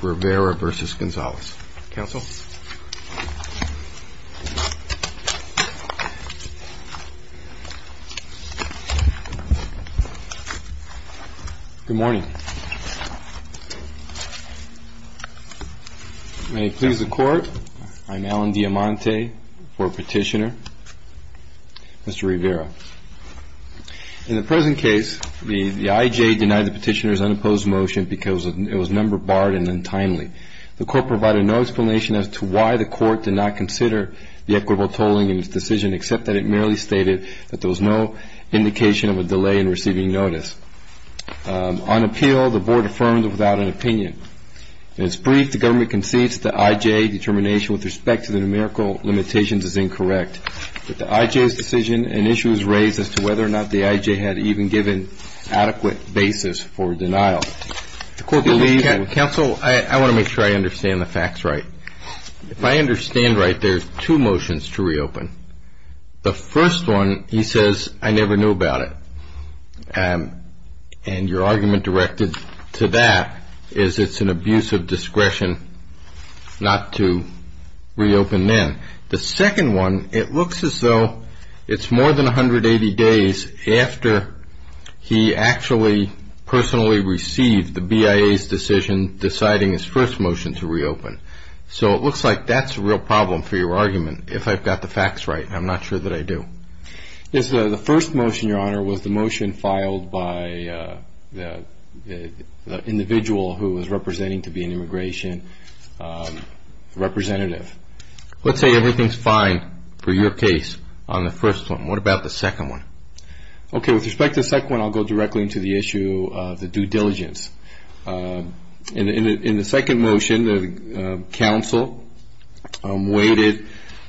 Good morning. May it please the court, I'm Alan Diamante, court petitioner, Mr. Rivera. In the present case, the IJ denied the petitioner's unopposed motion because it was number barred and untimely. The court provided no explanation as to why the court did not consider the equitable tolling in its decision, except that it merely stated that there was no indication of a delay in receiving notice. On appeal, the board affirmed without an opinion. In its brief, the government concedes that the IJ determination with respect to the numerical limitations is incorrect, that the IJ's decision and issue is raised as to whether or not the IJ had even given adequate basis for denial. The court believes... MR. RIVERA Counsel, I want to make sure I understand the facts right. If I understand right, there's two motions to reopen. The first one, he says, I never knew about it. And your argument directed to that is it's an abuse of discretion not to reopen then. The second one, it looks as though it's more than 180 days after he actually personally received the BIA's decision deciding his first motion to reopen. So, it looks like that's a real problem for your argument, if I've got the facts right. I'm not sure that I do. MR. RIVERA Yes, the first motion, Your Honor, was the motion filed by the individual who was representing to be an immigration representative. Let's say everything's fine for your case on the first one. What about the second one? Okay, with respect to the second one, I'll go directly into the issue of the due diligence. In the second motion, the counsel waited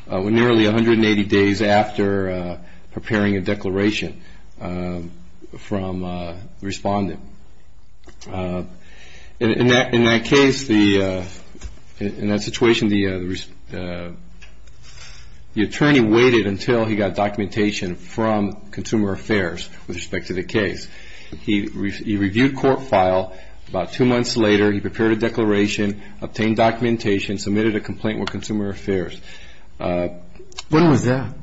nearly 180 days after preparing a declaration from the respondent. In that case, in that situation, the attorney waited until he got documentation from Consumer Affairs with respect to the case. He reviewed court file. About two months later, he prepared a declaration, obtained documentation, submitted a complaint with Consumer Affairs. MR. RIVERA When was that?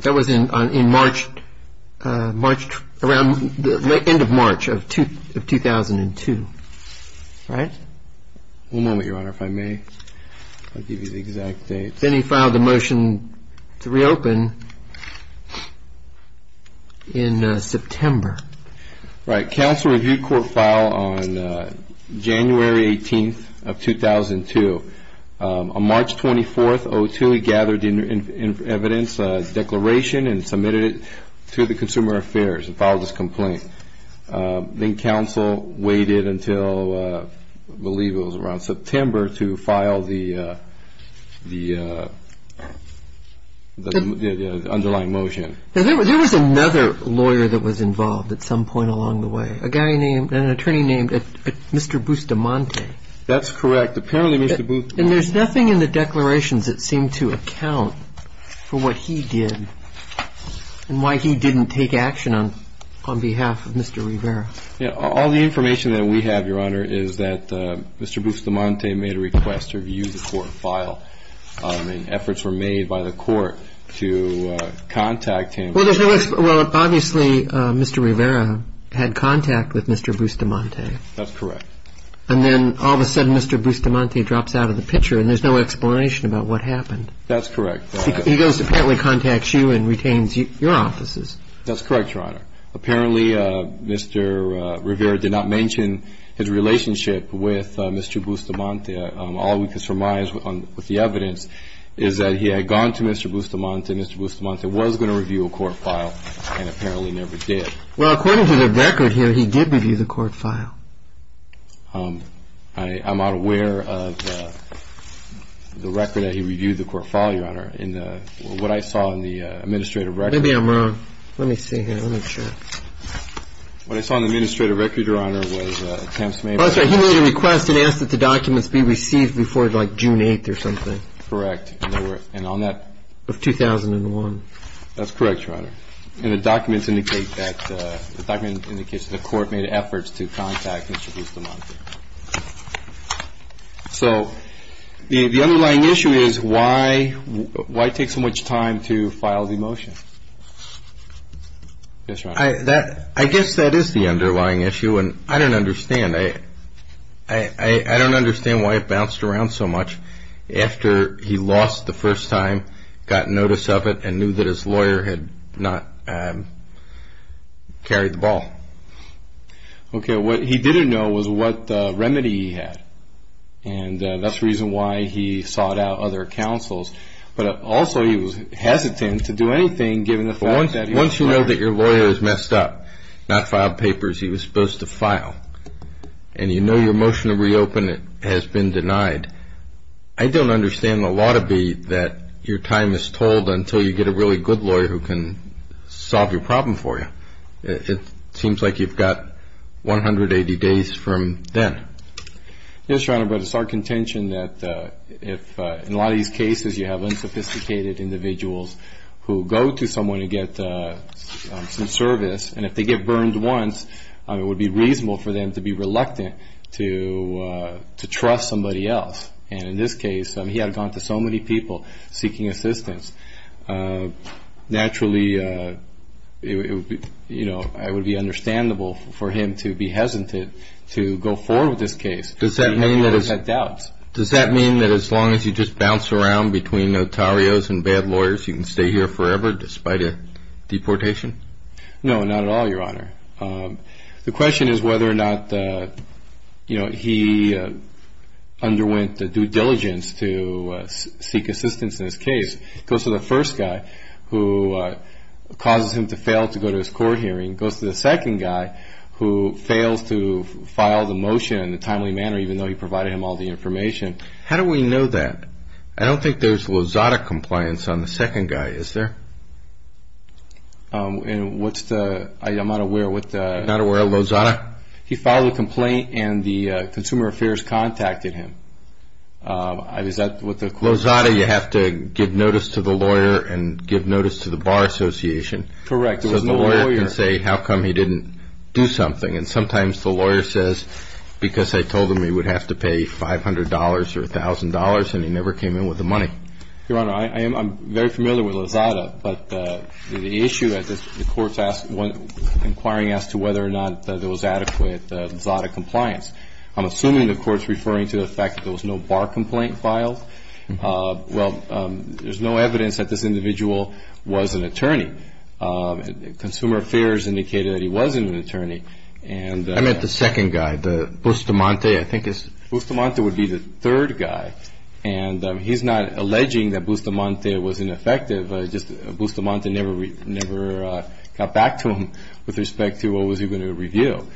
That was in March, March, around the end of March of 2002, right? MR. RIVERA One moment, Your Honor, if I may. I'll give you the exact date. MR. RIVERA Then he filed the motion to reopen in September. MR. RIVERA Right. Counsel reviewed court file on January 18th of 2002. On March 24th, he gathered evidence, a declaration, and submitted it to the Consumer Affairs and filed this complaint. Then counsel waited until, I believe it was around September, to file the underlying motion. MR. RIVERA There was another lawyer that was involved at some point along the way, an attorney named Mr. Bustamante. MR. RIVERA That's correct. Apparently Mr. Bustamante MR. RIVERA And there's nothing in the declarations that seem to account for what he did and why he didn't take action on behalf of Mr. Rivera. MR. RIVERA All the information that we have, Your Honor, is that Mr. Bustamante made a Mr. Bustamante had contact with Mr. Bustamante. MR. RIVERA That's correct. MR. RIVERA And then all of a sudden Mr. Bustamante drops out of the picture and there's no explanation about what happened. MR. RIVERA That's correct. MR. RIVERA He goes and apparently contacts you and retains your offices. MR. RIVERA That's correct, Your Honor. Apparently Mr. Rivera did not mention his relationship with Mr. Bustamante. All we can surmise with the evidence is that he had gone to Mr. Bustamante's office and was going to view a court file and apparently never did. MR. RIVERA According to the record here he did review a court file. MR. RIVERA I'm not aware of the record that he reviewed the court file, Your Honor. What I saw in the administrative record MR. RIVERA Maybe I'm wrong. Let me see here. MR. RIVERA What I saw in the administrative record, Your Honor, was attempts made by MR. RIVERA That's right. He made a request and asked that the documents be received before, like, June 8th or something. MR. RIVERA Correct. MR. RIVERA And on that... MR. RIVERA Of 2001. MR. RIVERA That's correct, Your Honor. And the documents indicate that the court made efforts to contact Mr. Bustamante. MR. RIVERA So the underlying issue is why take so much time to file the motion? MR. RIVERA I guess that is the underlying issue, and I don't understand. I don't understand why it was that he lost the first time, got notice of it, and knew that his lawyer had not carried the ball. MR. RIVERA Okay. What he didn't know was what remedy he had, and that's the reason why he sought out other counsels. But also he was hesitant to do anything given the fact that he was fired. MR. RIVERA Once you know that your lawyer is messed up, not filed papers he was supposed to file, and you know your motion to reopen has been denied, I don't understand the law to be that your time is told until you get a really good lawyer who can solve your problem for you. It seems like you've got 180 days from then. MR. RIVERA Yes, Your Honor, but it's our contention that if in a lot of these cases you have unsophisticated individuals who go to someone to get some service, and if they get burned once, it would be reasonable for them to be reluctant to trust somebody else. And in this case, he had gone to so many people seeking assistance. Naturally, it would be understandable for him to be hesitant to go forward with this case. MR. RIVERA Does that mean that as long as you just bounce around between notarios and bad lawyers, you can stay here forever despite a deportation? MR. RIVERA No, not at all, Your Honor. The question is whether or not he underwent due diligence to seek assistance in this case. It goes to the first guy who causes him to fail to go to his court hearing. It goes to the second guy who fails to file the motion in a timely manner even though he provided him all the information. MR. RIVERA How do we know that? I don't think there's Lozada compliance on the second guy, is there? MR. RIVERA I'm not aware. MR. RIVERA You're not aware of Lozada? MR. RIVERA He filed a complaint and the Consumer Affairs contacted him. MR. RIVERA Lozada, you have to give notice to the lawyer and give notice to the Bar Association. MR. RIVERA Correct. There was no lawyer. MR. RIVERA So the lawyer can say how come he didn't do something. And sometimes the lawyer says, because I told him he would have to pay $500 or $1,000 and he never came in with the money. MR. RIVERA Your Honor, I'm very familiar with Lozada, but the issue at the court's inquiring as to whether or not there was adequate Lozada compliance. I'm assuming the court's referring to the fact that there was no Bar complaint filed. Well, there's no evidence that this individual was an attorney. Consumer Affairs indicated that he wasn't an attorney. MR. RIVERA I meant the second guy, Bustamante. MR. RIVERA Bustamante would be the third guy. And he's not alleging that Bustamante was ineffective. Just Bustamante never got back to him with respect to what was he going to review.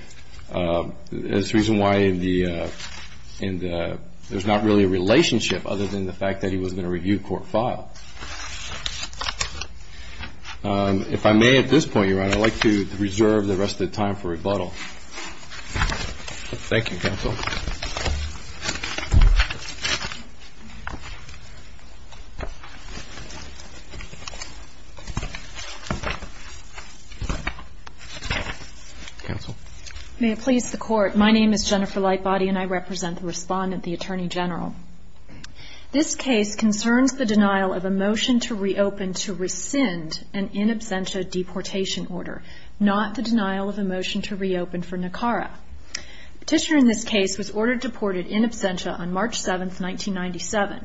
There's a reason why there's not really a relationship other than the fact that he wasn't going to review court files. If I may at this point, Your Honor, I'd like to reserve the rest of the time for rebuttal. Thank you, counsel. Counsel. May it please the Court, my name is Jennifer Lightbody and I represent the Respondent, the Attorney General. This case concerns the denial of a motion to reopen to rescind an in absentia deportation order, not the denial of a motion to reopen for Nicara. The petitioner in this case was ordered deported in absentia on March 7, 1997.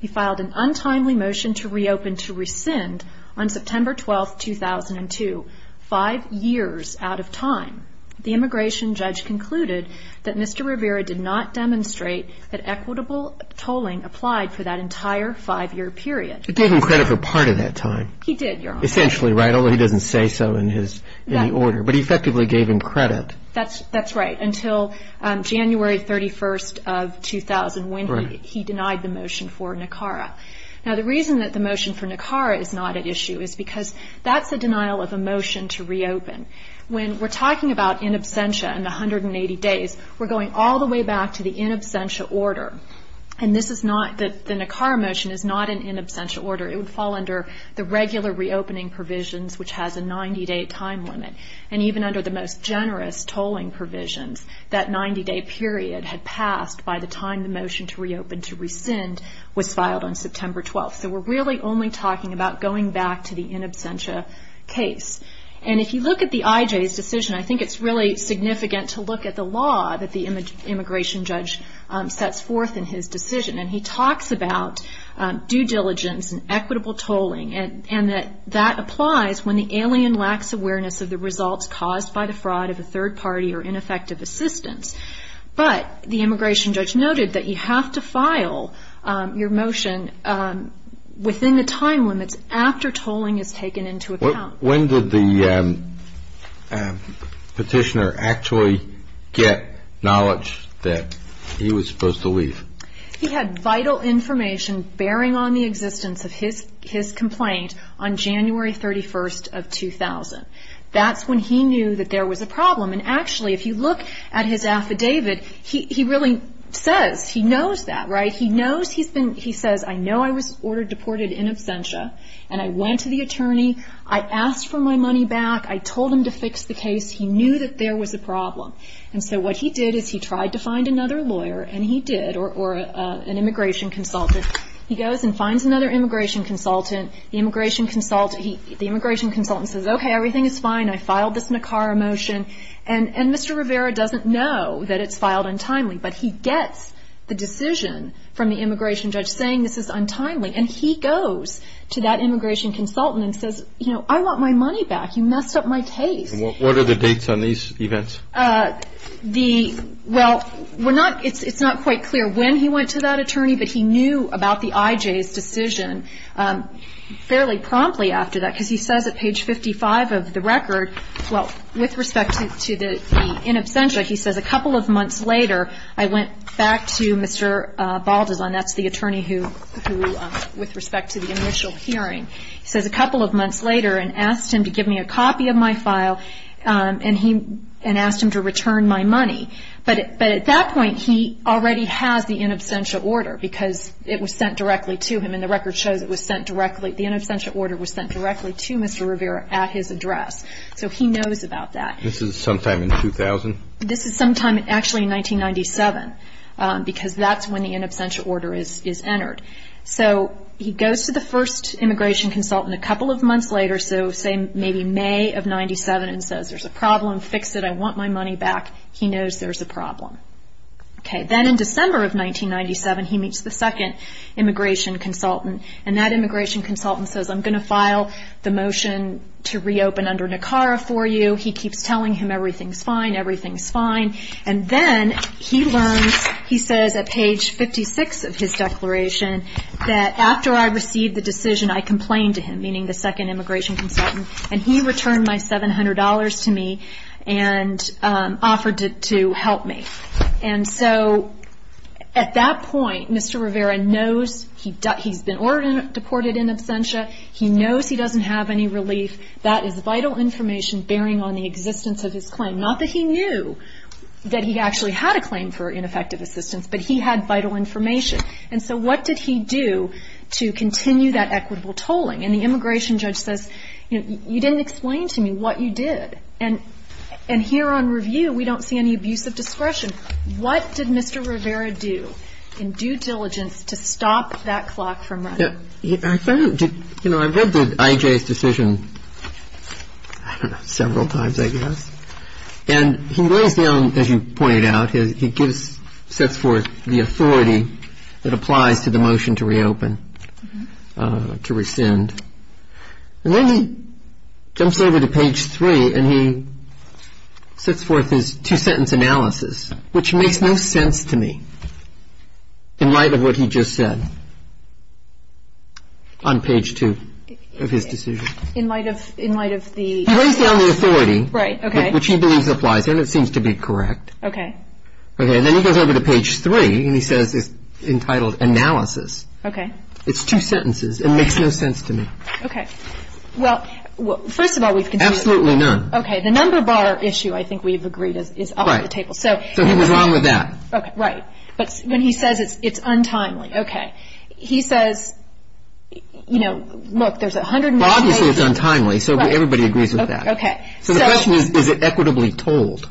He filed an untimely motion to reopen to rescind on September 12, 2002, five years out of time. The immigration judge concluded that Mr. Rivera did not demonstrate that equitable tolling applied for that entire five-year period. It gave him credit for part of that time. He did, Your Honor. Essentially, right, although he doesn't say so in the order. But he effectively gave him credit. That's right, until January 31, 2000, when he denied the motion for Nicara. Now, the reason that the motion for Nicara is not at issue is because that's a denial of a motion to reopen. When we're talking about in absentia and the 180 days, we're going all the way back to the in absentia order. And this is not, the Nicara motion is not in in absentia order. It would fall under the regular reopening provisions, which has a 90-day time limit. And even under the most generous tolling provisions, that 90-day period had passed by the time the motion to reopen to rescind was filed on September 12. So we're really only talking about going back to the in absentia case. And if you look at the IJ's decision, I think it's really significant to look at the law that the immigration judge sets forth in his decision. And he talks about due diligence and equitable tolling, and that that applies when the alien lacks awareness of the results caused by the fraud of a third party or ineffective assistance. But the immigration judge noted that you have to file your motion within the time limits after tolling is taken into account. When did the petitioner actually get knowledge that he was supposed to leave? He had vital information bearing on the existence of his complaint on January 31st of 2000. That's when he knew that there was a problem. And actually, if you look at his affidavit, he really says, he knows that, right? He knows he's been, he says, I know I was ordered deported in absentia, and I went to the attorney. I asked for my money back. I told him to fix the case. He knew that there was a problem. And so what he did is he tried to find another lawyer, and he did, or an immigration consultant. He goes and finds another immigration consultant. The immigration consultant says, okay, everything is fine. I filed this NACARA motion. And Mr. Rivera doesn't know that it's filed untimely. But he gets the decision from the immigration judge saying this is untimely. And he goes to that immigration consultant and says, you know, I want my money back. You messed up my case. And what are the dates on these events? The, well, we're not, it's not quite clear when he went to that attorney, but he knew about the IJ's decision fairly promptly after that. Because he says at page 55 of the record, well, with respect to the in absentia, he says a couple of months later, I went back to Mr. Baldason, that's the attorney who, with respect to the initial hearing, he says a couple of months later and asked him to give me a copy of my file and asked him to return my money. But at that point he already has the in absentia order because it was sent directly to him, and the record shows it was sent directly, the in absentia order was sent directly to Mr. Rivera at his address. So he knows about that. This is sometime in 2000? This is sometime actually in 1997 because that's when the in absentia order is entered. So he goes to the first immigration consultant a couple of months later, so say maybe May of 97, and says there's a problem, fix it, I want my money back. He knows there's a problem. Okay. Then in December of 1997 he meets the second immigration consultant, and that immigration consultant says I'm going to file the motion to reopen under NACARA for you. He keeps telling him everything's fine, everything's fine, and then he learns, he says at page 56 of his declaration, that after I received the decision I complained to him, meaning the second immigration consultant, and he returned my $700 to me and offered to help me. And so at that point Mr. Rivera knows he's been ordered and deported in absentia. He knows he doesn't have any relief. That is vital information bearing on the existence of his claim. Not that he knew that he actually had a claim for ineffective assistance, but he had vital information. And so what did he do to continue that equitable tolling? And the immigration judge says, you know, you didn't explain to me what you did. And here on review we don't see any abuse of discretion. What did Mr. Rivera do in due diligence to stop that clock from running? I read I.J.'s decision several times I guess. And he lays down, as you pointed out, he sets forth the authority that applies to the motion to reopen, to rescind. And then he jumps over to page 3 and he sets forth his two-sentence analysis, which makes no sense to me in light of what he just said on page 2 of his decision. In light of the? He lays down the authority. Right. Okay. Which he believes applies and it seems to be correct. Okay. Okay. And then he goes over to page 3 and he says it's entitled analysis. Okay. It's two sentences. It makes no sense to me. Okay. Well, first of all we've considered. Absolutely none. Okay. The number bar issue I think we've agreed is up at the table. So he was wrong with that. Right. But when he says it's untimely. Okay. He says, you know, look, there's a hundred and one pages. Well, obviously it's untimely, so everybody agrees with that. Okay. So the question is, is it equitably told?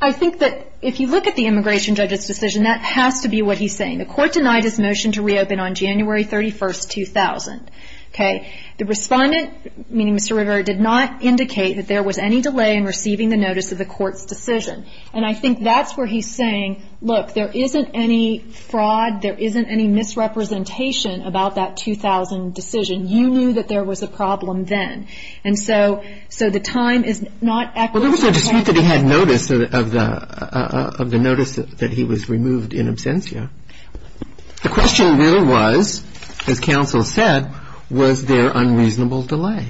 I think that if you look at the immigration judge's decision, that has to be what he's saying. The court denied his motion to reopen on January 31, 2000. Okay. The respondent, meaning Mr. Rivera, did not indicate that there was any delay in receiving the notice of the court's decision. And I think that's where he's saying, look, there isn't any fraud, there isn't any misrepresentation about that 2000 decision. You knew that there was a problem then. And so the time is not equitably told. Well, there was a dispute that he had notice of the notice that he was removed in absentia. The question really was, as counsel said, was there unreasonable delay?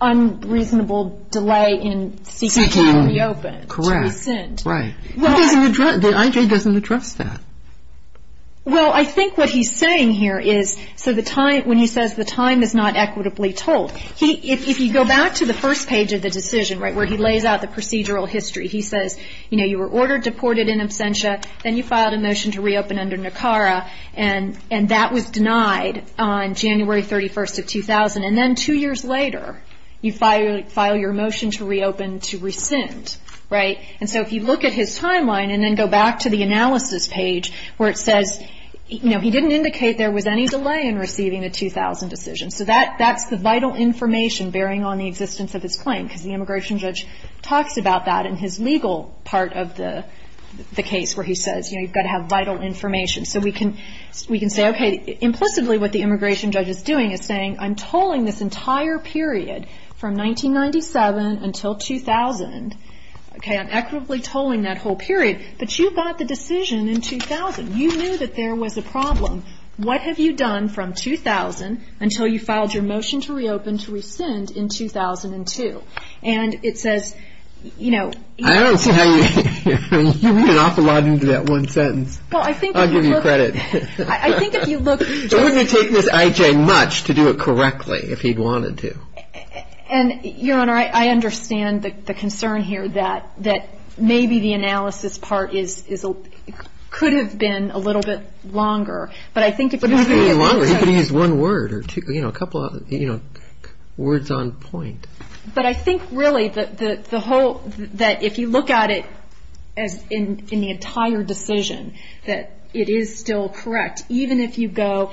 Unreasonable delay in seeking to reopen. To rescind. Right. The I.J. doesn't address that. Well, I think what he's saying here is, so the time, when he says the time is not equitably told, if you go back to the first page of the decision, right, where he lays out the procedural history, he says, you know, you were ordered deported in absentia, then you filed a motion to reopen under NACARA, and that was denied on January 31st of 2000. And then two years later, you file your motion to reopen to rescind. Right. And so if you look at his timeline and then go back to the analysis page where it says, you know, he didn't indicate there was any delay in receiving the 2000 decision. So that's the vital information bearing on the existence of his claim, because the immigration judge talks about that in his legal part of the case, where he says, you know, you've got to have vital information. So we can say, okay, implicitly what the immigration judge is doing is saying, I'm tolling this entire period from 1997 until 2000. Okay, I'm equitably tolling that whole period. But you got the decision in 2000. You knew that there was a problem. What have you done from 2000 until you filed your motion to reopen to rescind in 2002? And it says, you know, I don't see how you can read an awful lot into that one sentence. Well, I think if you look. I'll give you credit. I think if you look. It wouldn't have taken this I.J. much to do it correctly if he'd wanted to. And, Your Honor, I understand the concern here that maybe the analysis part could have been a little bit longer. But I think it would have been. It wouldn't have been any longer. He could have used one word or, you know, a couple of, you know, words on point. But I think, really, the whole. That if you look at it as in the entire decision, that it is still correct. Even if you go.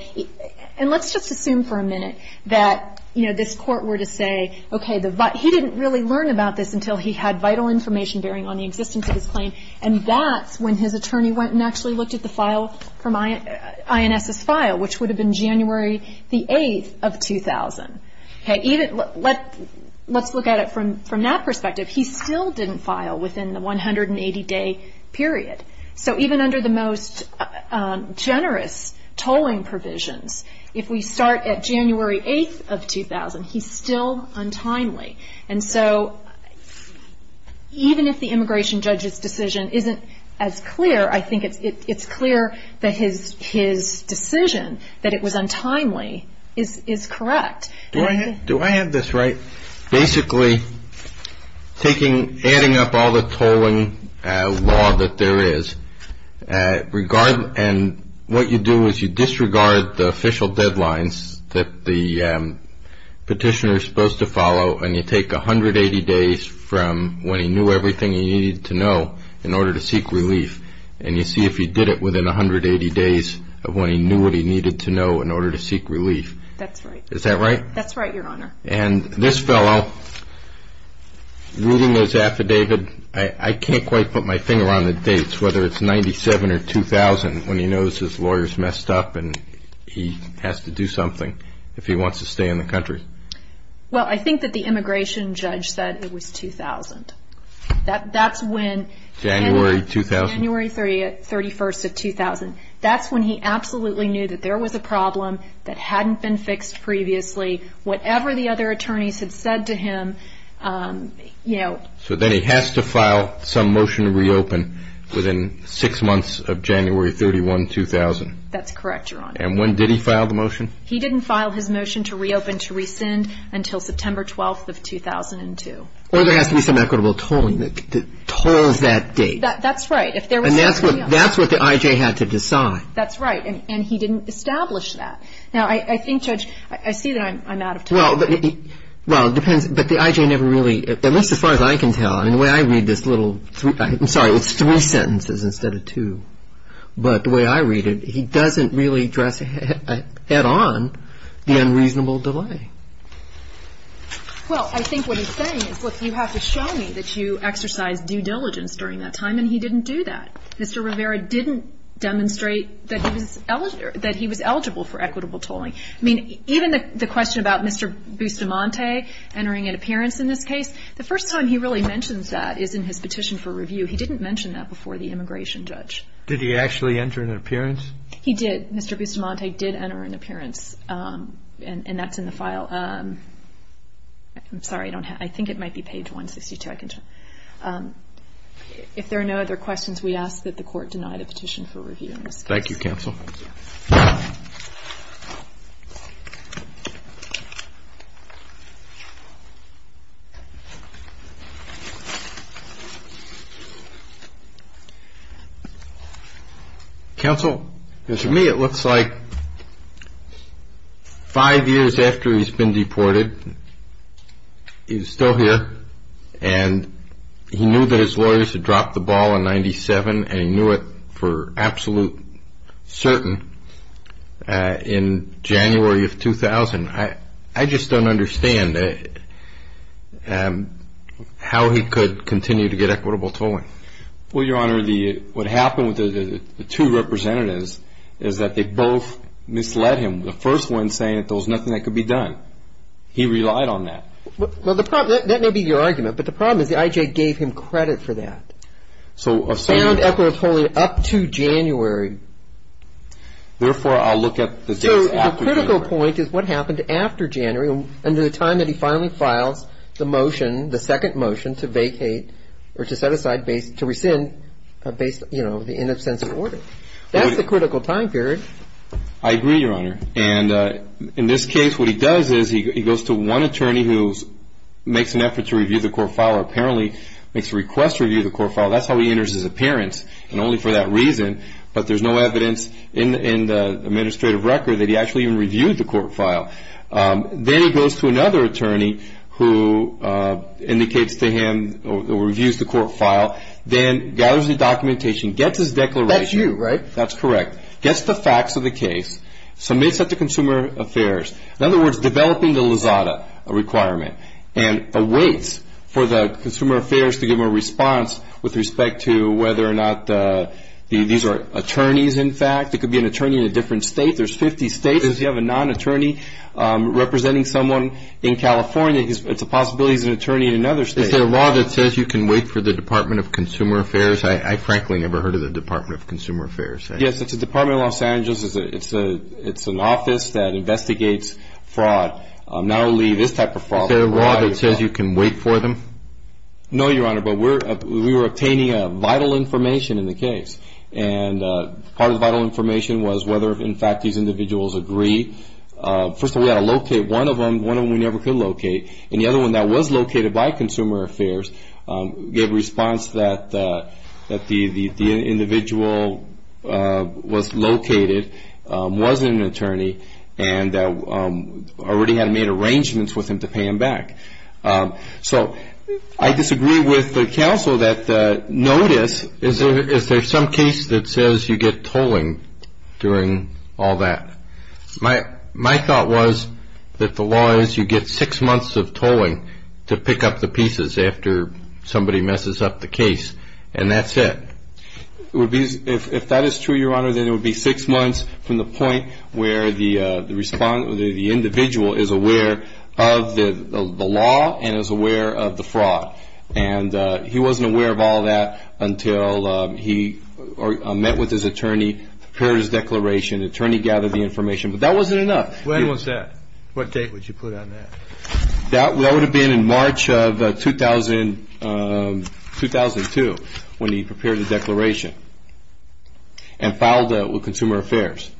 And let's just assume for a minute that, you know, this court were to say, okay, he didn't really learn about this until he had vital information bearing on the existence of his claim. And that's when his attorney went and actually looked at the file from INS's file, which would have been January the 8th of 2000. Okay. Let's look at it from that perspective. He still didn't file within the 180-day period. So even under the most generous tolling provisions, if we start at January 8th of 2000, he's still untimely. And so even if the immigration judge's decision isn't as clear, I think it's clear that his decision that it was untimely is correct. Do I have this right? Basically, adding up all the tolling law that there is, and what you do is you disregard the official deadlines that the petitioner is supposed to follow, and you take 180 days from when he knew everything he needed to know in order to seek relief, and you see if he did it within 180 days of when he knew what he needed to know in order to seek relief. That's right. Is that right? That's right, Your Honor. And this fellow, reading this affidavit, I can't quite put my finger on the dates, whether it's 97 or 2000, when he knows his lawyer's messed up and he has to do something if he wants to stay in the country. Well, I think that the immigration judge said it was 2000. That's when... January 2000? January 31st of 2000. That's when he absolutely knew that there was a problem that hadn't been fixed previously. Whatever the other attorneys had said to him, you know... So then he has to file some motion to reopen within six months of January 31, 2000. That's correct, Your Honor. And when did he file the motion? He didn't file his motion to reopen to rescind until September 12th of 2002. Well, there has to be some equitable tolling that tolls that date. That's right. And that's what the IJ had to decide. That's right, and he didn't establish that. Now, I think, Judge, I see that I'm out of time. Well, it depends, but the IJ never really, at least as far as I can tell, I mean, the way I read this little, I'm sorry, it's three sentences instead of two, but the way I read it, he doesn't really address head-on the unreasonable delay. Well, I think what he's saying is, look, you have to show me that you exercised due diligence during that time, and he didn't do that. Mr. Rivera didn't demonstrate that he was eligible for equitable tolling. I mean, even the question about Mr. Bustamante entering an appearance in this case, the first time he really mentions that is in his petition for review. He didn't mention that before the immigration judge. Did he actually enter an appearance? He did. Mr. Bustamante did enter an appearance, and that's in the file. I'm sorry, I think it might be page 162. If there are no other questions, we ask that the Court deny the petition for review in this case. Thank you, counsel. Counsel, to me it looks like five years after he's been deported, he's still here, and he knew that his lawyers had dropped the ball in 97, and he knew it for absolute certain in January of 2000. I just don't understand how he could continue to get equitable tolling. Well, Your Honor, what happened with the two representatives is that they both misled him, the first one saying that there was nothing that could be done. He relied on that. Well, that may be your argument, but the problem is the I.J. gave him credit for that. So a certain ñ Found equitable tolling up to January. Therefore, I'll look at the dates after January. So the critical point is what happened after January, and the time that he finally files the motion, the second motion to vacate or to set aside, to rescind based, you know, in a sense of order. That's the critical time period. I agree, Your Honor. And in this case, what he does is he goes to one attorney who makes an effort to review the court file or apparently makes a request to review the court file. That's how he enters his appearance, and only for that reason. But there's no evidence in the administrative record that he actually even reviewed the court file. Then he goes to another attorney who indicates to him or reviews the court file, then gathers the documentation, gets his declaration. That's you, right? That's correct. Gets the facts of the case, submits it to Consumer Affairs. In other words, developing the Lizada requirement, and awaits for the Consumer Affairs to give him a response with respect to whether or not these are attorneys, in fact. It could be an attorney in a different state. There's 50 states. If you have a non-attorney representing someone in California, it's a possibility it's an attorney in another state. Is there a law that says you can wait for the Department of Consumer Affairs? I frankly never heard of the Department of Consumer Affairs. Yes, it's the Department of Los Angeles. It's an office that investigates fraud, not only this type of fraud. Is there a law that says you can wait for them? No, Your Honor, but we were obtaining vital information in the case, and part of the vital information was whether, in fact, these individuals agree. First of all, we had to locate one of them. One of them we never could locate, and the other one that was located by Consumer Affairs gave a response that the individual was located, was an attorney, and already had made arrangements with him to pay him back. So I disagree with the counsel that notice. Is there some case that says you get tolling during all that? My thought was that the law is you get six months of tolling to pick up the pieces after somebody messes up the case, and that's it. If that is true, Your Honor, then it would be six months from the point where the individual is aware of the law and is aware of the fraud, and he wasn't aware of all that until he met with his attorney, prepared his declaration, attorney gathered the information, but that wasn't enough. When was that? What date would you put on that? That would have been in March of 2002 when he prepared the declaration and filed with Consumer Affairs.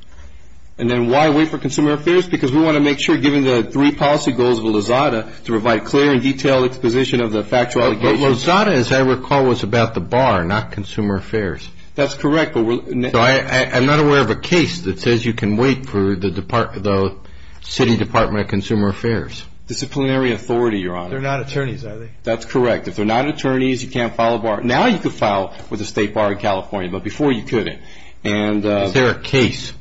And then why wait for Consumer Affairs? Because we want to make sure, given the three policy goals of Lozada, to provide clear and detailed exposition of the factual allegations. But Lozada, as I recall, was about the bar, not Consumer Affairs. That's correct. I'm not aware of a case that says you can wait for the City Department of Consumer Affairs. Disciplinary authority, Your Honor. They're not attorneys, are they? That's correct. If they're not attorneys, you can't file a bar. Now you can file with a state bar in California, but before you couldn't. Is there a case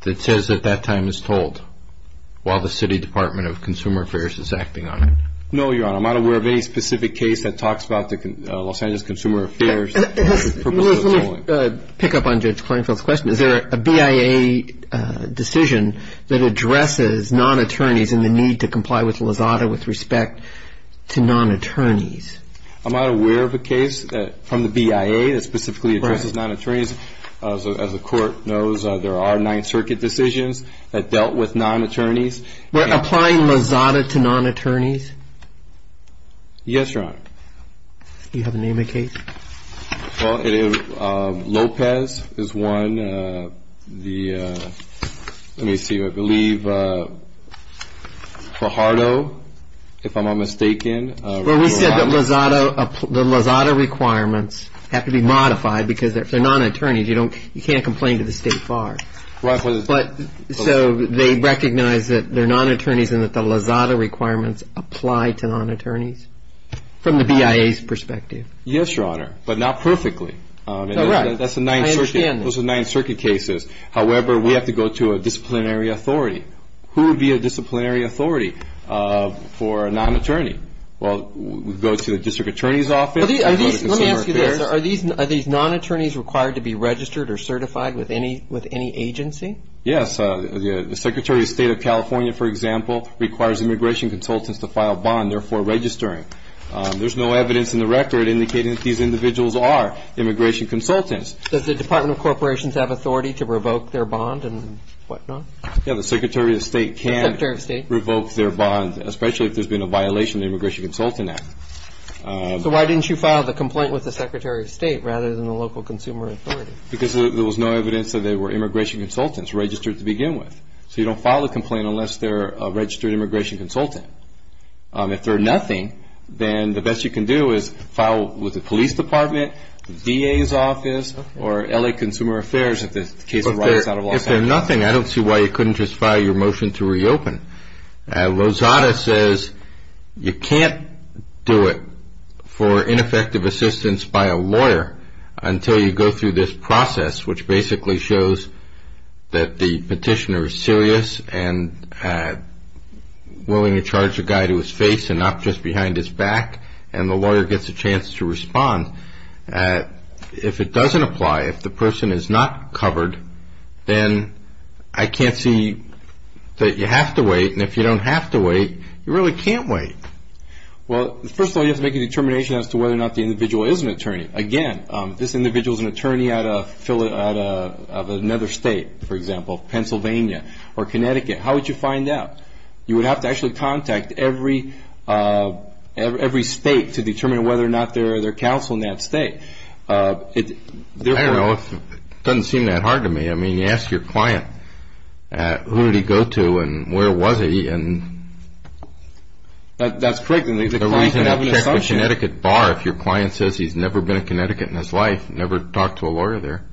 that says that that time is tolled while the City Department of Consumer Affairs is acting on it? No, Your Honor. I'm not aware of any specific case that talks about Los Angeles Consumer Affairs. Let me pick up on Judge Klinefeld's question. Is there a BIA decision that addresses non-attorneys and the need to comply with Lozada with respect to non-attorneys? I'm not aware of a case from the BIA that specifically addresses non-attorneys. As the Court knows, there are Ninth Circuit decisions that dealt with non-attorneys. We're applying Lozada to non-attorneys? Yes, Your Honor. Do you have a name of a case? Lopez is one. Let me see. I believe Pajardo, if I'm not mistaken. Well, we said that the Lozada requirements have to be modified because if they're non-attorneys, you can't complain to the state bar. So they recognize that they're non-attorneys and that the Lozada requirements apply to non-attorneys from the BIA's perspective? Yes, Your Honor, but not perfectly. That's the Ninth Circuit. Those are Ninth Circuit cases. However, we have to go to a disciplinary authority. Who would be a disciplinary authority for a non-attorney? Well, we'd go to the District Attorney's Office, go to Consumer Affairs. Are these non-attorneys required to be registered or certified with any agency? Yes. The Secretary of State of California, for example, requires immigration consultants to file a bond, therefore registering. There's no evidence in the record indicating that these individuals are immigration consultants. Does the Department of Corporations have authority to revoke their bond and whatnot? Yes, the Secretary of State can revoke their bond, especially if there's been a violation of the Immigration Consultant Act. So why didn't you file the complaint with the Secretary of State rather than the local consumer authority? Because there was no evidence that they were immigration consultants registered to begin with. So you don't file a complaint unless they're a registered immigration consultant. If they're nothing, then the best you can do is file with the police department, the DA's office, or L.A. Consumer Affairs if the case arrives out of Los Angeles. But if they're nothing, I don't see why you couldn't just file your motion to reopen. Lozada says you can't do it for ineffective assistance by a lawyer until you go through this process, which basically shows that the petitioner is serious and willing to charge a guy to his face and not just behind his back, and the lawyer gets a chance to respond. If it doesn't apply, if the person is not covered, then I can't see that you have to wait. And if you don't have to wait, you really can't wait. Well, first of all, you have to make a determination as to whether or not the individual is an attorney. Again, this individual is an attorney out of another state, for example, Pennsylvania or Connecticut. How would you find out? You would have to actually contact every state to determine whether or not they're counsel in that state. I don't know. It doesn't seem that hard to me. I mean, you ask your client, who did he go to and where was he? That's correct. And the client can have an assumption. If your client says he's never been to Connecticut in his life, never talk to a lawyer there.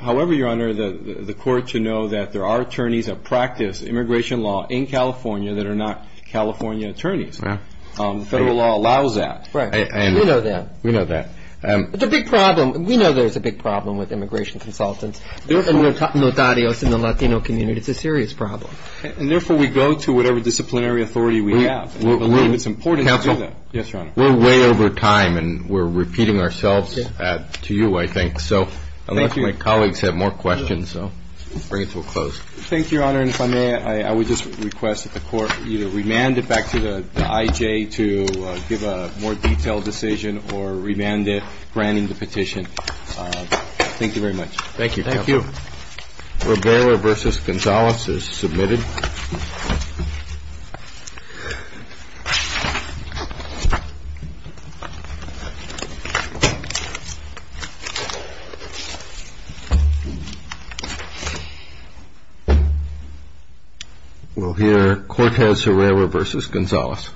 However, Your Honor, the court should know that there are attorneys that practice immigration law in California that are not California attorneys. Federal law allows that. Right. We know that. We know that. It's a big problem. We know there's a big problem with immigration consultants and notarios in the Latino community. It's a serious problem. And, therefore, we go to whatever disciplinary authority we have. We believe it's important to do that. Counsel? Yes, Your Honor. We're way over time, and we're repeating ourselves to you, I think. So I'll let my colleagues have more questions. So I'll bring it to a close. Thank you, Your Honor. And if I may, I would just request that the court either remand it back to the I.J. to give a more detailed decision or remand it, granting the petition. Thank you very much. Thank you. Thank you. Rivera v. Gonzalez is submitted. We'll hear Cortez-Rivera v. Gonzalez.